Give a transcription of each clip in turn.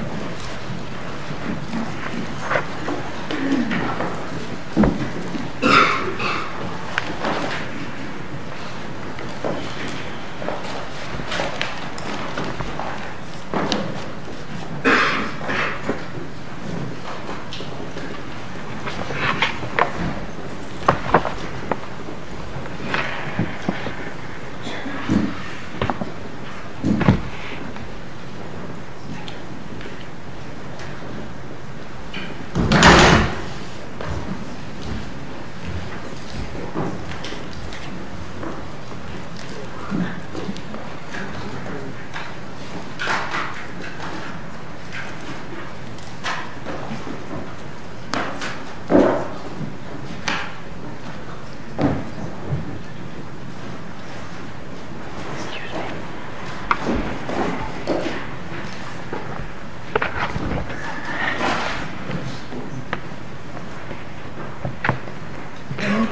I recorded these eyewear videos long before they were uploaded After today's life is over, my eyes can finally open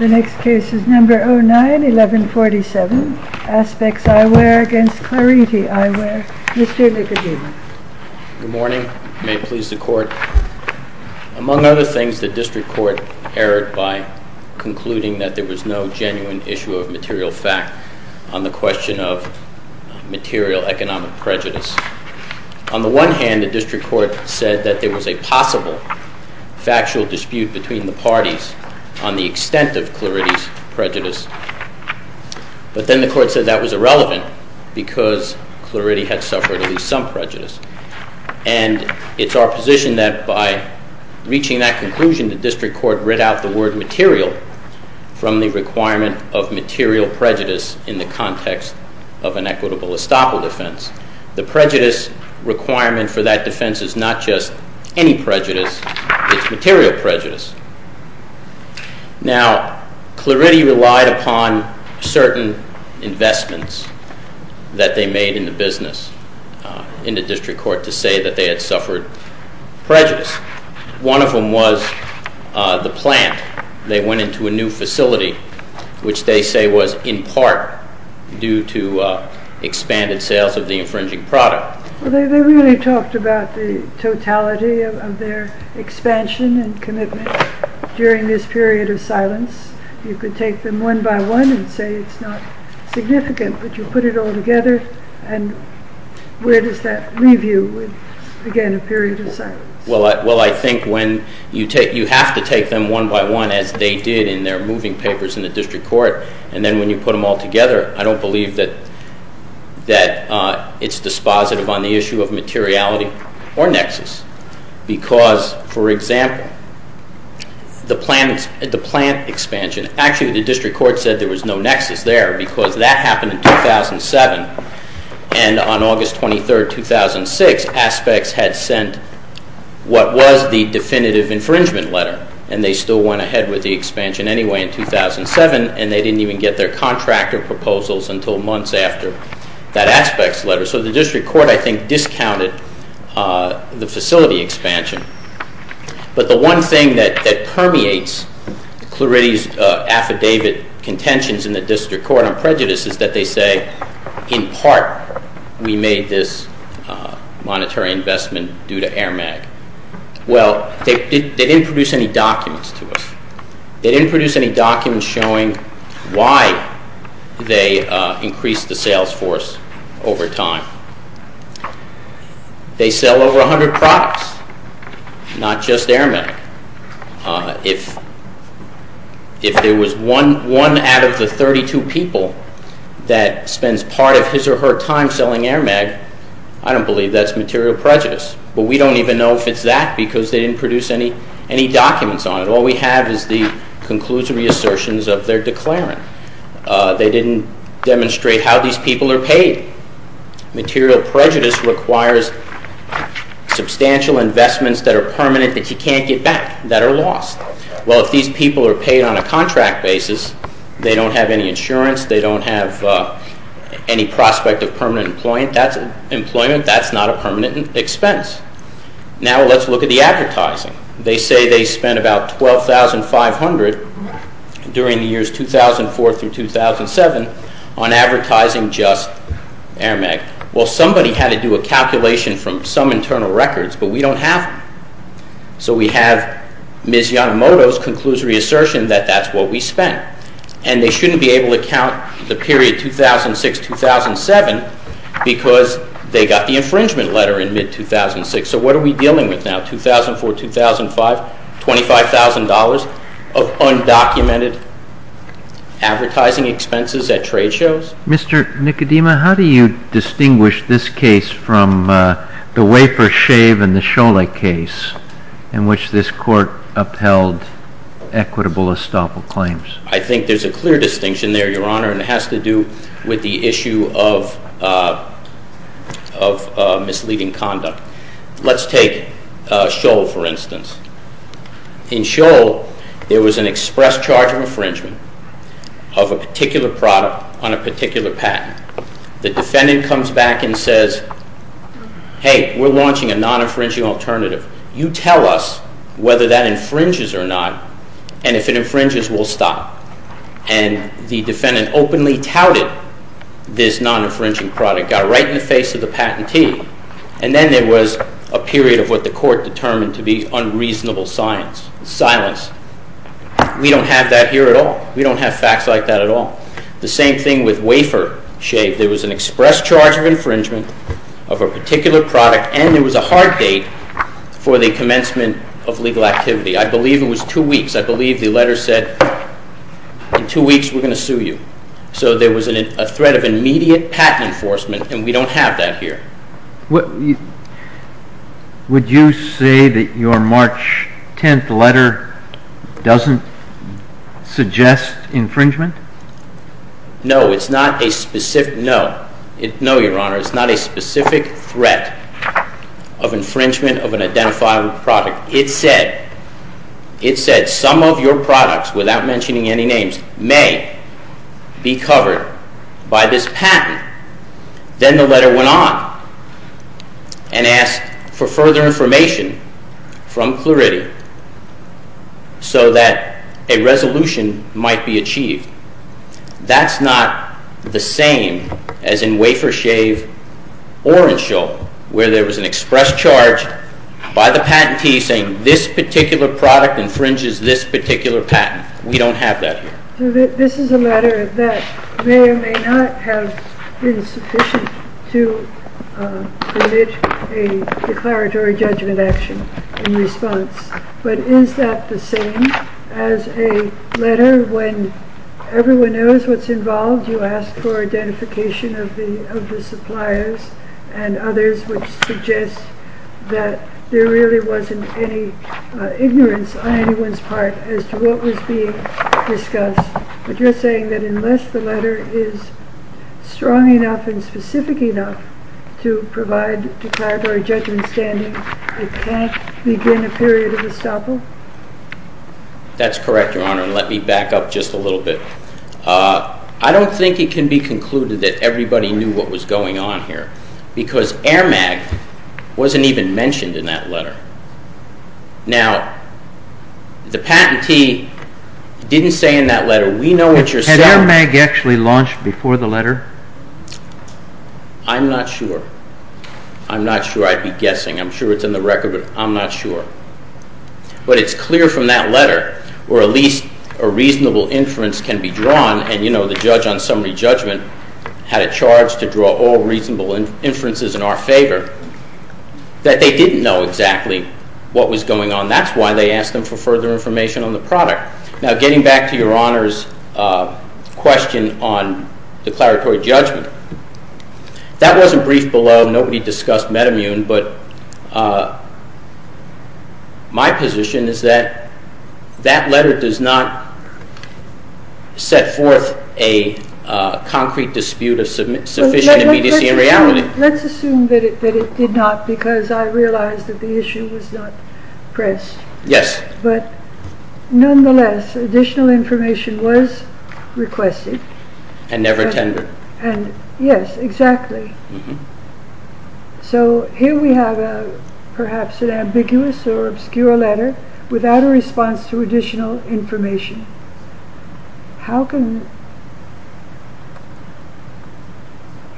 The next case is number 09-1147, Aspects Eyewear against Clarity Eyewear. Mr. Ligodino. Good morning. May it please the court. Among other things, the district court erred by concluding that there was no genuine issue of material fact on the question of material economic prejudice. On the one hand, the district court said that there was a possible factual dispute between the parties on the extent of Clarity's prejudice. But then the court said that was irrelevant because Clarity had suffered at least some prejudice. And it's our position that by reaching that conclusion, the district court writ out the word material from the requirement of material prejudice in the context of an equitable estoppel defense. The prejudice requirement for that defense is not just any prejudice, it's material prejudice. Now, Clarity relied upon certain investments that they made in the business in the district court to say that they had suffered prejudice. One of them was the plant. They went into a new facility, which they say was in part due to expanded sales of the infringing product. They really talked about the totality of their expansion and commitment during this period of silence. You could take them one by one and say it's not significant, but you put it all together. Where does that leave you with, again, a period of silence? Well, I think you have to take them one by one as they did in their moving papers in the district court. And then when you put them all together, I don't believe that it's dispositive on the issue of materiality or nexus. Because, for example, the plant expansion, actually the district court said there was no nexus there because that happened in 2007. And on August 23rd, 2006, Aspects had sent what was the definitive infringement letter. And they still went ahead with the expansion anyway in 2007, and they didn't even get their contractor proposals until months after that Aspects letter. So the district court, I think, discounted the facility expansion. But the one thing that permeates Clarity's affidavit contentions in the district court on prejudice is that they say, in part, we made this monetary investment due to AIRMAG. Well, they didn't produce any documents to us. They didn't produce any documents showing why they increased the sales force over time. They sell over 100 products, not just AIRMAG. If there was one out of the 32 people that spends part of his or her time selling AIRMAG, I don't believe that's material prejudice. But we don't even know if it's that because they didn't produce any documents on it. And all we have is the conclusive reassertions of their declarant. They didn't demonstrate how these people are paid. Material prejudice requires substantial investments that are permanent that you can't get back, that are lost. Well, if these people are paid on a contract basis, they don't have any insurance. They don't have any prospect of permanent employment. That's not a permanent expense. Now let's look at the advertising. They say they spent about $12,500 during the years 2004 through 2007 on advertising just AIRMAG. Well, somebody had to do a calculation from some internal records, but we don't have them. So we have Ms. Yanomoto's conclusory assertion that that's what we spent. And they shouldn't be able to count the period 2006-2007 because they got the infringement letter in mid-2006. So what are we dealing with now? 2004-2005, $25,000 of undocumented advertising expenses at trade shows? Mr. Nicodema, how do you distinguish this case from the wafer, shave, and the shole case in which this Court upheld equitable estoppel claims? I think there's a clear distinction there, Your Honor, and it has to do with the issue of misleading conduct. Let's take shole, for instance. In shole, there was an express charge of infringement of a particular product on a particular patent. The defendant comes back and says, hey, we're launching a non-infringing alternative. You tell us whether that infringes or not, and if it infringes, we'll stop. And the defendant openly touted this non-infringing product, got right in the face of the patentee, and then there was a period of what the Court determined to be unreasonable silence. We don't have that here at all. We don't have facts like that at all. The same thing with wafer, shave. There was an express charge of infringement of a particular product, and there was a hard date for the commencement of legal activity. I believe it was two weeks. I believe the letter said, in two weeks, we're going to sue you. So there was a threat of immediate patent enforcement, and we don't have that here. Would you say that your March 10th letter doesn't suggest infringement? No, it's not a specific threat of infringement of an identifiable product. It said some of your products, without mentioning any names, may be covered by this patent. Then the letter went on and asked for further information from Clarity so that a resolution might be achieved. That's not the same as in wafer, shave or in Shoal, where there was an express charge by the patentee saying this particular product infringes this particular patent. We don't have that here. This is a letter that may or may not have been sufficient to commit a declaratory judgment action in response. But is that the same as a letter when everyone knows what's involved? You ask for identification of the suppliers and others, which suggests that there really wasn't any ignorance on anyone's part as to what was being discussed. But you're saying that unless the letter is strong enough and specific enough to provide declaratory judgment standing, it can't begin a period of estoppel? That's correct, Your Honor, and let me back up just a little bit. I don't think it can be concluded that everybody knew what was going on here, because Air Mag wasn't even mentioned in that letter. Now, the patentee didn't say in that letter, we know what you're saying. Had Air Mag actually launched before the letter? I'm not sure. I'm not sure. I'd be guessing. I'm sure it's in the record, but I'm not sure. But it's clear from that letter, where at least a reasonable inference can be drawn, and you know the judge on summary judgment had a charge to draw all reasonable inferences in our favor, that they didn't know exactly what was going on. That's why they asked them for further information on the product. Now, getting back to Your Honor's question on declaratory judgment, that wasn't briefed below. Nobody discussed metamune, but my position is that that letter does not set forth a concrete dispute of sufficient immediacy and reality. Let's assume that it did not, because I realize that the issue was not pressed. Yes. But nonetheless, additional information was requested. And never attended. Yes, exactly. So, here we have perhaps an ambiguous or obscure letter without a response to additional information.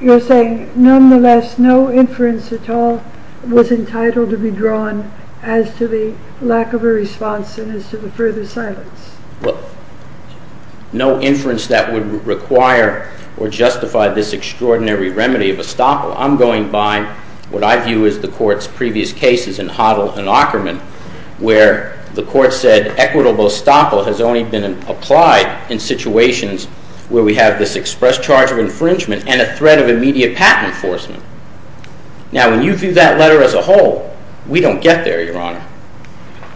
You're saying, nonetheless, no inference at all was entitled to be drawn as to the lack of a response and as to the further silence. Well, no inference that would require or justify this extraordinary remedy of estoppel. I'm going by what I view as the Court's previous cases in Hoddle and Ackerman, where the Court said equitable estoppel has only been applied in situations where we have this express charge of infringement and a threat of immediate patent enforcement. Now, when you view that letter as a whole, we don't get there, Your Honor.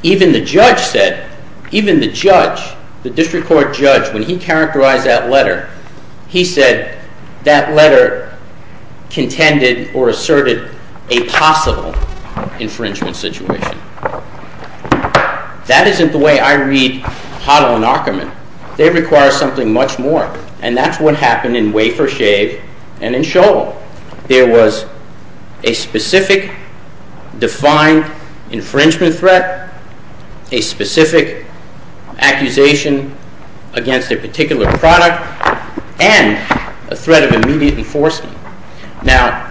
Even the judge said, even the judge, the district court judge, when he characterized that letter, he said that letter contended or asserted a possible infringement situation. That isn't the way I read Hoddle and Ackerman. They require something much more, and that's what happened in Wafer, Shave, and in Shoal. There was a specific, defined infringement threat, a specific accusation against a particular product, and a threat of immediate enforcement. Now,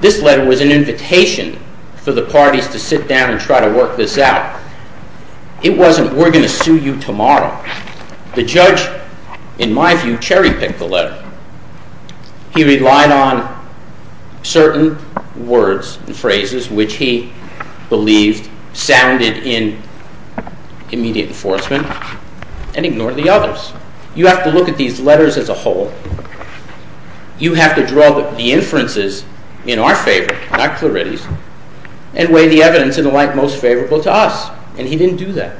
this letter was an invitation for the parties to sit down and try to work this out. It wasn't, we're going to sue you tomorrow. The judge, in my view, cherry-picked the letter. He relied on certain words and phrases, which he believed sounded in immediate enforcement, and ignored the others. You have to look at these letters as a whole. You have to draw the inferences in our favor, not Clarity's, and weigh the evidence in the light most favorable to us, and he didn't do that.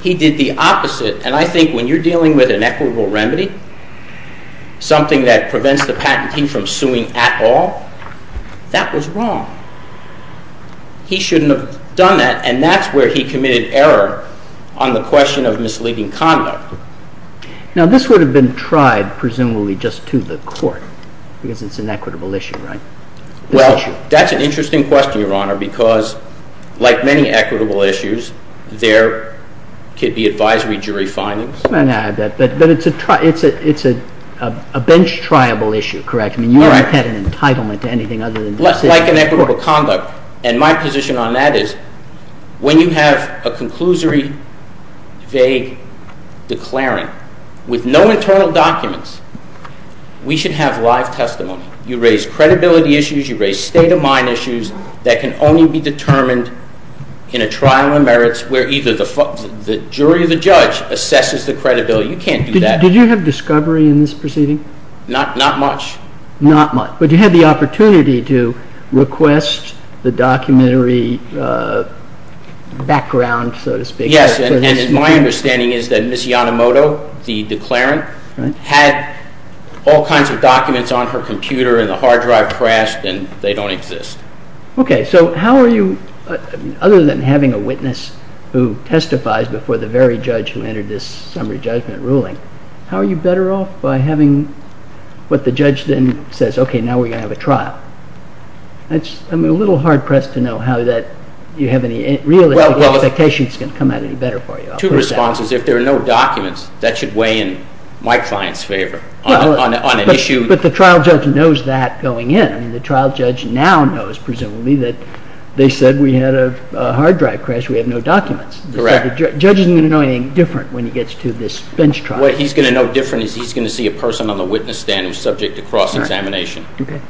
He did the opposite, and I think when you're dealing with an equitable remedy, something that prevents the patentee from suing at all, that was wrong. He shouldn't have done that, and that's where he committed error on the question of misleading conduct. Now, this would have been tried, presumably, just to the court, because it's an equitable issue, right? Well, that's an interesting question, Your Honor, because, like many equitable issues, there could be advisory jury findings. I'm going to add that, but it's a bench-triable issue, correct? I mean, you haven't had an entitlement to anything other than the city court. Like an equitable conduct, and my position on that is, when you have a conclusory, vague declaring, with no internal documents, we should have live testimony. You raise credibility issues, you raise state-of-mind issues that can only be determined in a trial of merits where either the jury or the judge assesses the credibility. You can't do that. Did you have discovery in this proceeding? Not much. Not much. But you had the opportunity to request the documentary background, so to speak. Yes, and my understanding is that Ms. Yanamoto, the declarant, had all kinds of documents on her computer, and the hard drive crashed, and they don't exist. Okay, so how are you, other than having a witness who testifies before the very judge who entered this summary judgment ruling, how are you better off by having what the judge then says, okay, now we're going to have a trial? I'm a little hard-pressed to know how that you have any realistic expectations can come out any better for you. Two responses. If there are no documents, that should weigh in my client's favor on an issue. But the trial judge knows that going in. I mean, the trial judge now knows, presumably, that they said we had a hard drive crash, we have no documents. Correct. The judge isn't going to know anything different when he gets to this bench trial. What he's going to know different is he's going to see a person on the witness stand who's subject to cross-examination. Okay.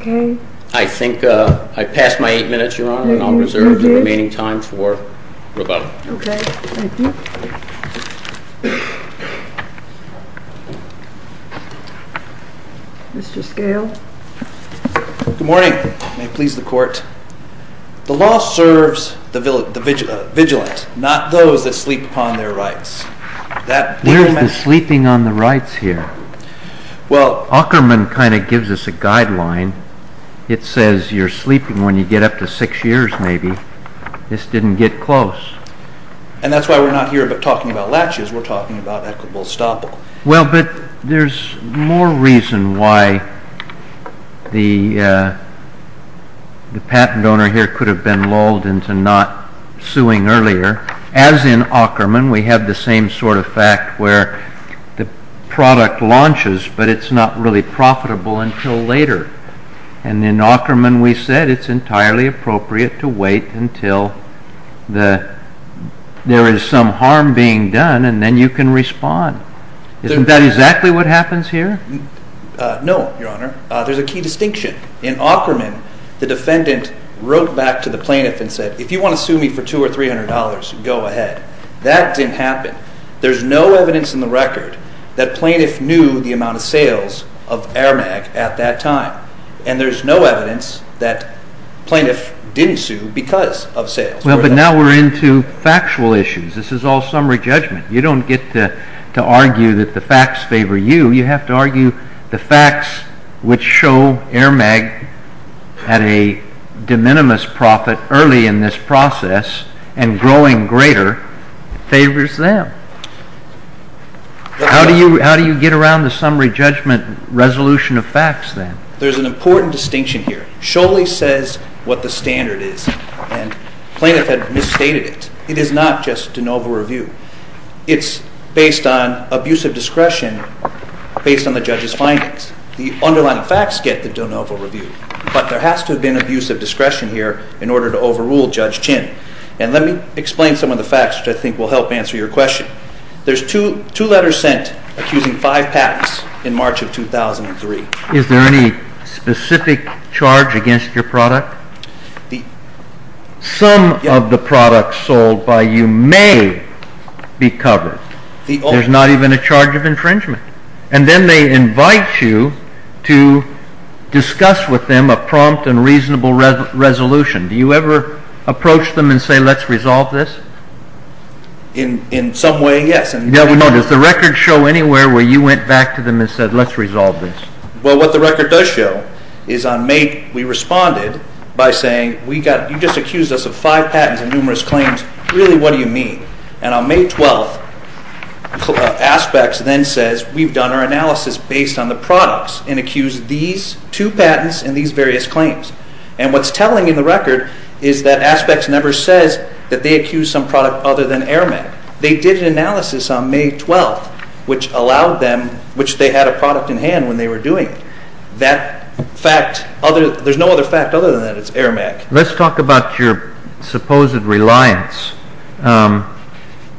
Okay. I think I passed my eight minutes, Your Honor, and I'll reserve the remaining time for rebuttal. Okay, thank you. Mr. Scale. Good morning. May it please the Court. The law serves the vigilant, not those that sleep upon their rights. There's the sleeping on the rights here. Well… Ackerman kind of gives us a guideline. It says you're sleeping when you get up to six years, maybe. This didn't get close. And that's why we're not here but talking about latches. We're talking about equitable estoppel. Well, but there's more reason why the patent owner here could have been lulled into not suing earlier. As in Ackerman, we have the same sort of fact where the product launches but it's not really profitable until later. And in Ackerman, we said it's entirely appropriate to wait until there is some harm being done and then you can respond. Isn't that exactly what happens here? No, Your Honor. There's a key distinction. In Ackerman, the defendant wrote back to the plaintiff and said, if you want to sue me for $200 or $300, go ahead. That didn't happen. There's no evidence in the record that plaintiff knew the amount of sales of Aramag at that time. And there's no evidence that plaintiff didn't sue because of sales. Well, but now we're into factual issues. This is all summary judgment. You don't get to argue that the facts favor you. You have to argue the facts which show Aramag had a de minimis profit early in this process and growing greater favors them. How do you get around the summary judgment resolution of facts, then? There's an important distinction here. It surely says what the standard is, and plaintiff had misstated it. It is not just de novo review. It's based on abusive discretion based on the judge's findings. The underlying facts get the de novo review, but there has to have been abusive discretion here in order to overrule Judge Chinn. And let me explain some of the facts, which I think will help answer your question. There's two letters sent accusing five patents in March of 2003. Is there any specific charge against your product? Some of the products sold by you may be covered. There's not even a charge of infringement. And then they invite you to discuss with them a prompt and reasonable resolution. Do you ever approach them and say, let's resolve this? In some way, yes. Does the record show anywhere where you went back to them and said, let's resolve this? Well, what the record does show is on May, we responded by saying, you just accused us of five patents and numerous claims. Really, what do you mean? And on May 12th, Aspects then says, we've done our analysis based on the products and accused these two patents and these various claims. And what's telling in the record is that Aspects never says that they accused some product other than Airmen. They did an analysis on May 12th, which allowed them, which they had a product in hand when they were doing it. That fact, there's no other fact other than that it's Airmen. Let's talk about your supposed reliance.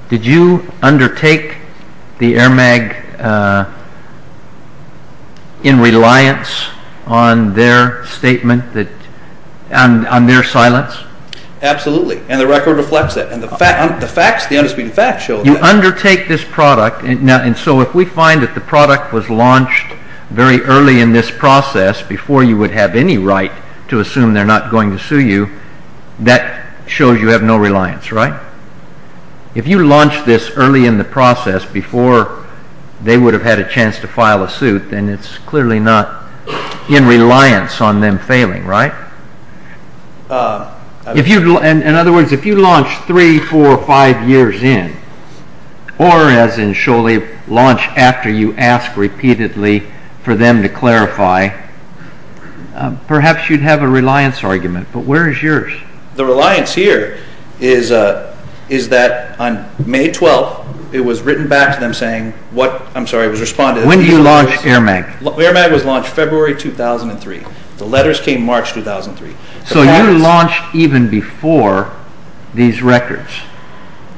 Did you undertake the Airmen in reliance on their statement, on their silence? Absolutely. And the record reflects that. And the facts, the undisputed facts show that. You undertake this product, and so if we find that the product was launched very early in this process, before you would have any right to assume they're not going to sue you, that shows you have no reliance, right? If you launched this early in the process, before they would have had a chance to file a suit, then it's clearly not in reliance on them failing, right? In other words, if you launched three, four, five years in, or as in Sholey, launched after you asked repeatedly for them to clarify, perhaps you'd have a reliance argument. But where is yours? The reliance here is that on May 12th, it was written back to them saying, I'm sorry, it was responded. When did you launch Airmen? Airmen was launched February 2003. The letters came March 2003. So you launched even before these records?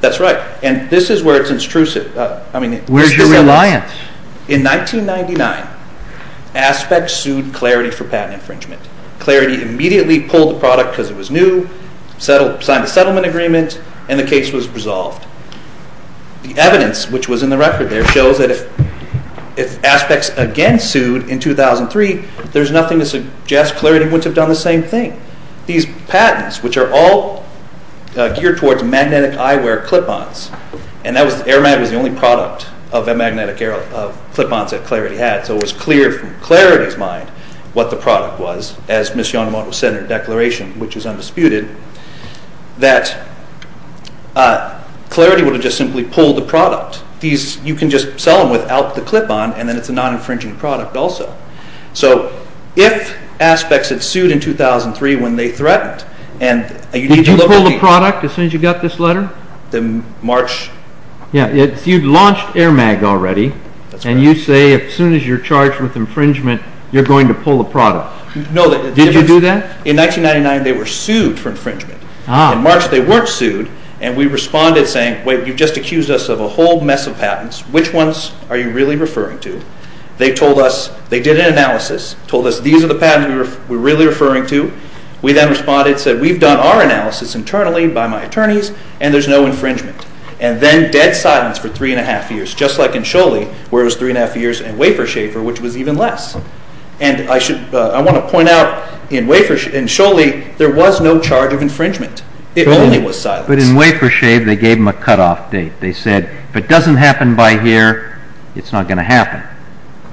That's right. And this is where it's intrusive. Where's the reliance? In 1999, Aspect sued Clarity for patent infringement. Clarity immediately pulled the product because it was new, signed a settlement agreement, and the case was resolved. The evidence, which was in the record there, shows that if Aspect again sued in 2003, there's nothing to suggest Clarity wouldn't have done the same thing. These patents, which are all geared towards magnetic eyewear clip-ons, and Airmen was the only product of magnetic clip-ons that Clarity had, so it was clear from Clarity's mind what the product was, as Ms. Yonemoto said in her declaration, which was undisputed, that Clarity would have just simply pulled the product. You can just sell them without the clip-on, and then it's a non-infringing product also. So if Aspect had sued in 2003 when they threatened, and you need to look at the... Did you pull the product as soon as you got this letter? In March... You'd launched Airmag already, and you say as soon as you're charged with infringement, you're going to pull the product. Did you do that? In 1999, they were sued for infringement. In March, they weren't sued, and we responded saying, wait, you've just accused us of a whole mess of patents. Which ones are you really referring to? They told us... They did an analysis, told us these are the patents we're really referring to. We then responded and said, we've done our analysis internally by my attorneys, and there's no infringement. And then dead silence for 3 1⁄2 years, just like in Scholey, where it was 3 1⁄2 years, and Wafer Schaefer, which was even less. And I want to point out, in Scholey, there was no charge of infringement. It only was silence. But in Wafer Schaefer, they gave them a cutoff date. They said, if it doesn't happen by here, it's not going to happen.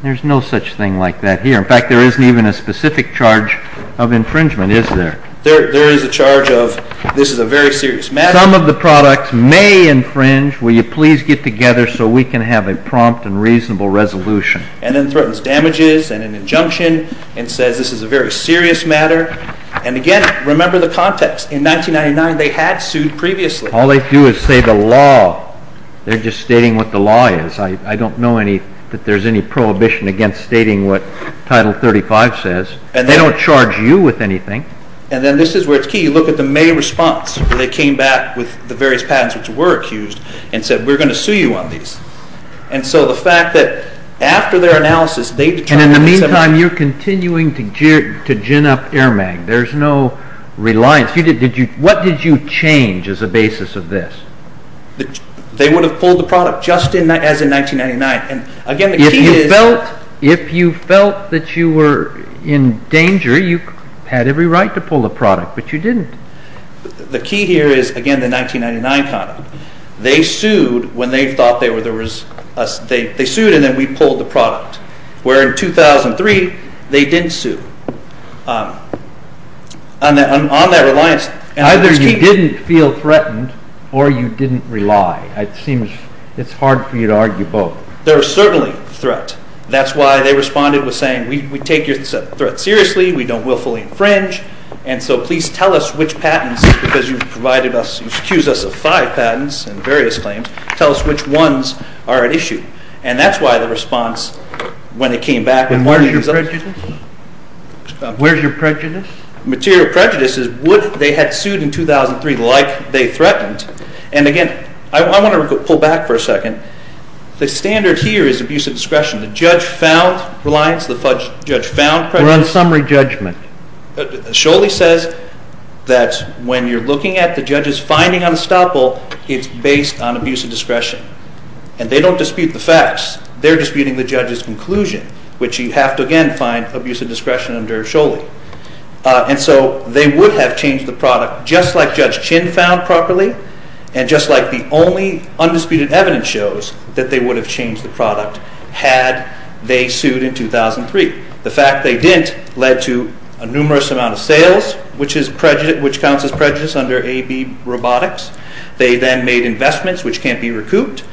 There's no such thing like that here. In fact, there isn't even a specific charge of infringement, is there? There is a charge of this is a very serious matter. Some of the products may infringe. Will you please get together so we can have a prompt and reasonable resolution? And then threatens damages and an injunction, and says this is a very serious matter. And again, remember the context. In 1999, they had sued previously. All they do is say the law. They're just stating what the law is. I don't know that there's any prohibition against stating what Title 35 says. And they don't charge you with anything. And then this is where it's key. You look at the May response, where they came back with the various patents, which were accused, and said, we're going to sue you on these. And so the fact that after their analysis, they determined that... And in the meantime, you're continuing to gin up air mag. There's no reliance. What did you change as a basis of this? They would have pulled the product just as in 1999. And again, the key is... If you felt that you were in danger, you had every right to pull the product, but you didn't. The key here is, again, the 1999 conduct. They sued when they thought there was... They sued, and then we pulled the product. Where in 2003, they didn't sue. On that reliance... Either you didn't feel threatened, or you didn't rely. It seems... It's hard for you to argue both. There was certainly threat. That's why they responded with saying, we take your threat seriously. We don't willfully infringe. And so please tell us which patents, because you've accused us of five patents, and various claims. Tell us which ones are at issue. And that's why the response, when they came back... Material prejudice? Where's your prejudice? Material prejudice is what they had sued in 2003, like they threatened. And again, I want to pull back for a second. The standard here is abuse of discretion. The judge found reliance. The judge found prejudice. We're on summary judgment. Sholey says that when you're looking at the judge's finding on estoppel, it's based on abuse of discretion. And they don't dispute the facts. They're disputing the judge's conclusion, which you have to, again, find abuse of discretion under Sholey. And so they would have changed the product, just like Judge Chin found properly, and just like the only undisputed evidence shows, that they would have changed the product had they sued in 2003. The fact they didn't led to a numerous amount of sales, which counts as prejudice under AB Robotics. They then made investments, which can't be recouped.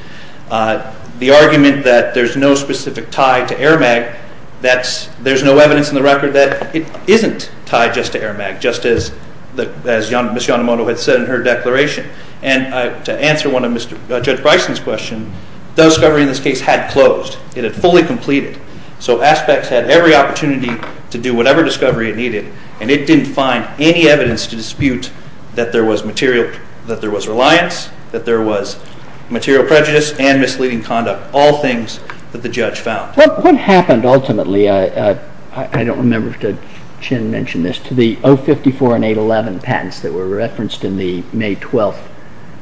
The argument that there's no specific tie to Aramag, there's no evidence in the record that it isn't tied just to Aramag, just as Ms. Yonemoto had said in her declaration. And to answer one of Judge Bryson's questions, the discovery in this case had closed. It had fully completed. So Aspects had every opportunity to do whatever discovery it needed, and it didn't find any evidence to dispute that there was reliance, that there was material prejudice and misleading conduct. All things that the judge found. What happened ultimately, I don't remember if Chin mentioned this, to the 054 and 811 patents that were referenced in the May 12th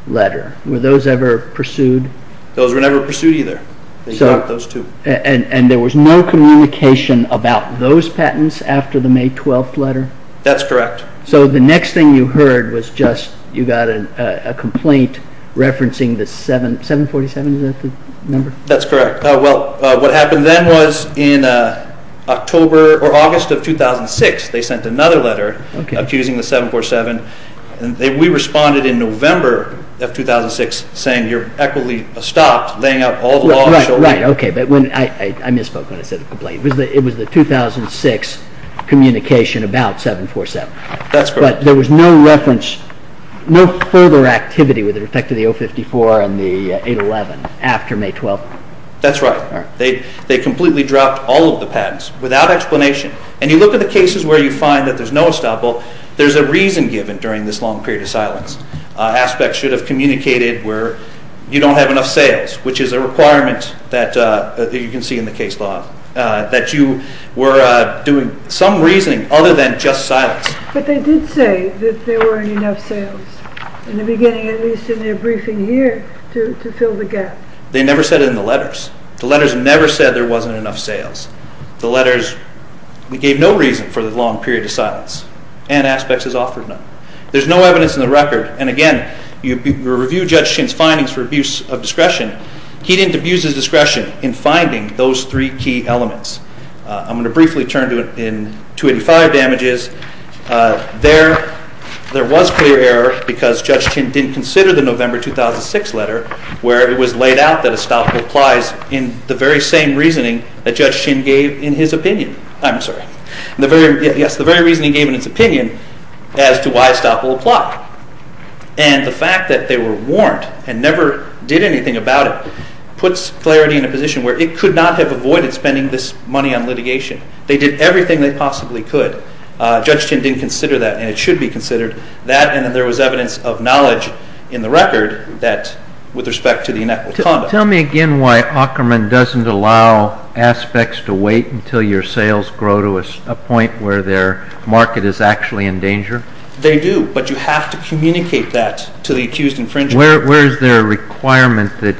letter? Were those ever pursued? Those were never pursued either. And there was no communication about those patents after the May 12th letter? That's correct. So the next thing you heard was just you got a complaint referencing the 747? Is that the number? That's correct. Well, what happened then was in October or August of 2006, they sent another letter accusing the 747. We responded in November of 2006 saying, you're equitably stopped laying out all the law. Right, okay, but I misspoke when I said the complaint. It was the 2006 communication about 747. That's correct. But there was no reference, no further activity with respect to the 054 and the 811 after May 12th? That's right. They completely dropped all of the patents without explanation. And you look at the cases where you find that there's no estoppel, there's a reason given during this long period of silence. Aspects should have communicated where you don't have enough sales, which is a requirement that you can see in the case law, that you were doing some reasoning other than just silence. But they did say that there weren't enough sales in the beginning, at least in their briefing here, to fill the gap. They never said it in the letters. The letters never said there wasn't enough sales. The letters gave no reason for the long period of silence, and Aspects has offered none. There's no evidence in the record, and again, you review Judge Chin's findings for abuse of discretion. He didn't abuse his discretion in finding those three key elements. I'm going to briefly turn to 285 damages. There was clear error because Judge Chin didn't consider the November 2006 letter where it was laid out that estoppel applies in the very same reasoning that Judge Chin gave in his opinion. I'm sorry. Yes, the very reasoning he gave in his opinion as to why estoppel applied. And the fact that they were warned and never did anything about it puts Clarity in a position where it could not have avoided spending this money on litigation. They did everything they possibly could. Judge Chin didn't consider that, and it should be considered that, and then there was evidence of knowledge in the record that, with respect to the inequitable conduct. Tell me again why Ackerman doesn't allow Aspects to wait until your sales grow to a point where their market is actually in danger? They do, but you have to communicate that to the accused infringer. Where is there a requirement that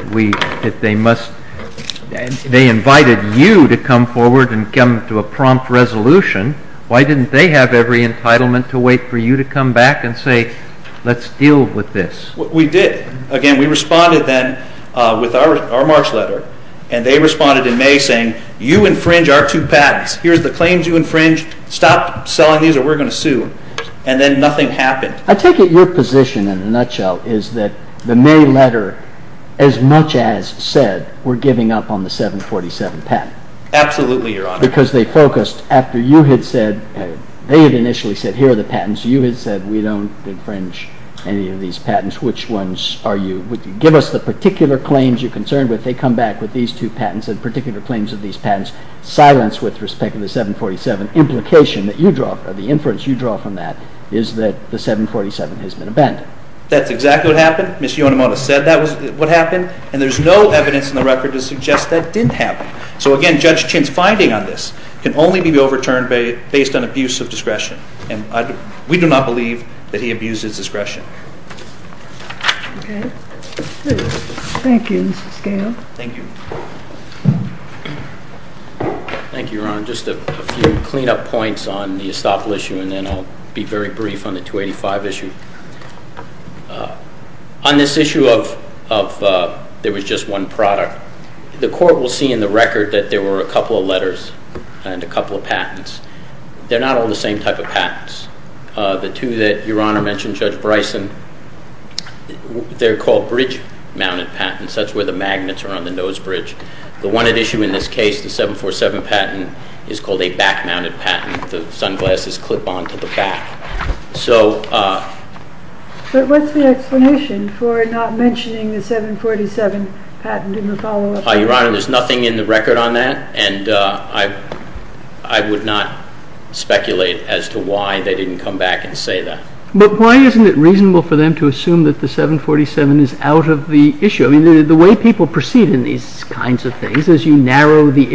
they invited you to come forward and come to a prompt resolution? Why didn't they have every entitlement to wait for you to come back and say, let's deal with this? We did. Again, we responded then with our March letter, and they responded in May saying, you infringe our two patents. Stop selling these or we're going to sue. And then nothing happened. I take it your position, in a nutshell, is that the May letter, as much as said, we're giving up on the 747 patent. Absolutely, Your Honor. Because they focused, after you had said, they had initially said, here are the patents, you had said, we don't infringe any of these patents. Which ones are you? Give us the particular claims you're concerned with. They come back with these two patents and particular claims of these patents. Silence with respect to the 747. The inference you draw from that is that the 747 has been abandoned. That's exactly what happened. Ms. Yonemoto said that was what happened. And there's no evidence in the record to suggest that didn't happen. So again, Judge Chin's finding on this can only be overturned based on abuse of discretion. And we do not believe that he abused his discretion. Okay. Thank you, Mr. Scalia. Thank you. Thank you, Your Honor. Just a few cleanup points on the Estoppel issue, and then I'll be very brief on the 285 issue. On this issue of there was just one product, the court will see in the record that there were a couple of letters and a couple of patents. They're not all the same type of patents. The two that Your Honor mentioned, Judge Bryson, they're called bridge-mounted patents. That's where the magnets are on the nose bridge. The one at issue in this case, the 747 patent, is called a back-mounted patent. The sunglasses clip onto the back. But what's the explanation for not mentioning the 747 patent in the follow-up? Your Honor, there's nothing in the record on that, and I would not speculate as to why they didn't come back and say that. But why isn't it reasonable for them to assume that the 747 is out of the issue? I mean, the way people proceed in these kinds of things is you narrow the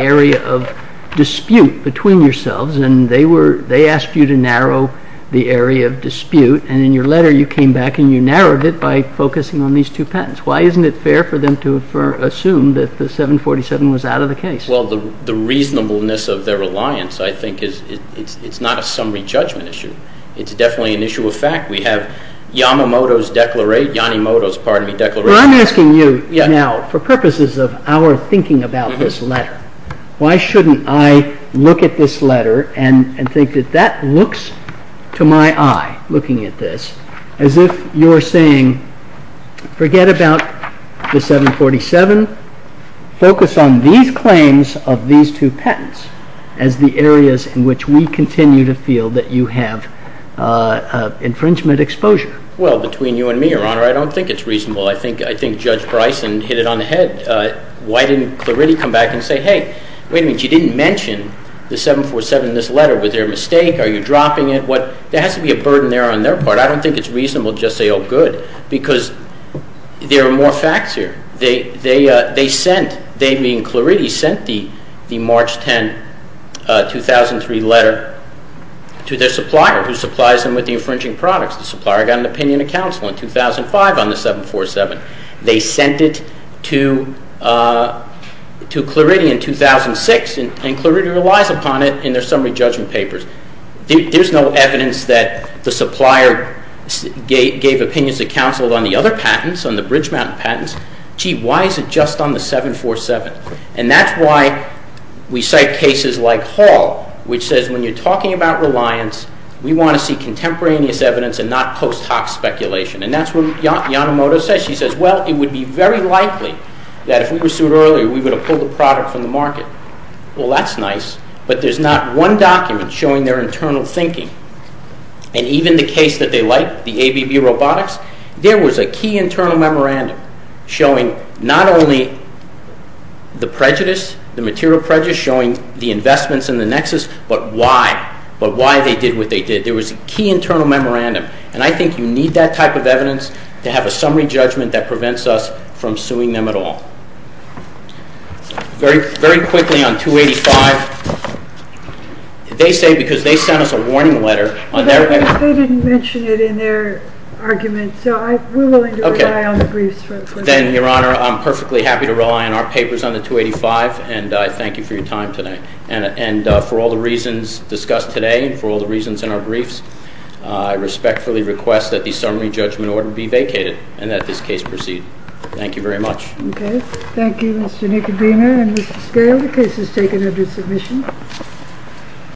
area of dispute between yourselves, and they asked you to narrow the area of dispute, and in your letter you came back and you narrowed it by focusing on these two patents. Why isn't it fair for them to assume that the 747 was out of the case? Well, the reasonableness of their reliance, I think, it's not a summary judgment issue. It's definitely an issue of fact. We have Yamamoto's declaration. Well, I'm asking you now, for purposes of our thinking about this letter, why shouldn't I look at this letter and think that that looks to my eye, looking at this, as if you're saying, forget about the 747, focus on these claims of these two patents as the areas in which we continue to feel that you have infringement exposure? Well, between you and me, Your Honor, I don't think it's reasonable. I think Judge Bryson hit it on the head. Why didn't Clarity come back and say, hey, wait a minute, you didn't mention the 747 in this letter. Was there a mistake? Are you dropping it? There has to be a burden there on their part. I don't think it's reasonable to just say, oh, good, because there are more facts here. They sent, they being Clarity, sent the March 10, 2003 letter to their supplier, who supplies them with the infringing products. The supplier got an opinion of counsel in 2005 on the 747. They sent it to Clarity in 2006, and Clarity relies upon it in their summary judgment papers. There's no evidence that the supplier gave opinions of counsel on the other patents, on the Bridge Mountain patents. Gee, why is it just on the 747? And that's why we cite cases like Hall, which says when you're talking about reliance, we want to see contemporaneous evidence and not post hoc speculation. And that's what Yanomoto says. She says, well, it would be very likely that if we pursued earlier, we would have pulled the product from the market. Well, that's nice, but there's not one document showing their internal thinking. And even the case that they like, the ABB Robotics, there was a key internal memorandum showing not only the prejudice, the material prejudice showing the investments in the Nexus, but why. But why they did what they did. There was a key internal memorandum. And I think you need that type of evidence to have a summary judgment that prevents us from suing them at all. Very quickly on 285, they say because they sent us a warning letter. They didn't mention it in their argument, so we're willing to rely on the briefs. Then, Your Honor, I'm perfectly happy to rely on our papers on the 285, and I thank you for your time today. And for all the reasons discussed today and for all the reasons in our briefs, I respectfully request that the summary judgment order be vacated and that this case proceed. Thank you very much. Okay. Thank you, Mr. Nicodeno and Mr. Scalia. The case is taken under submission.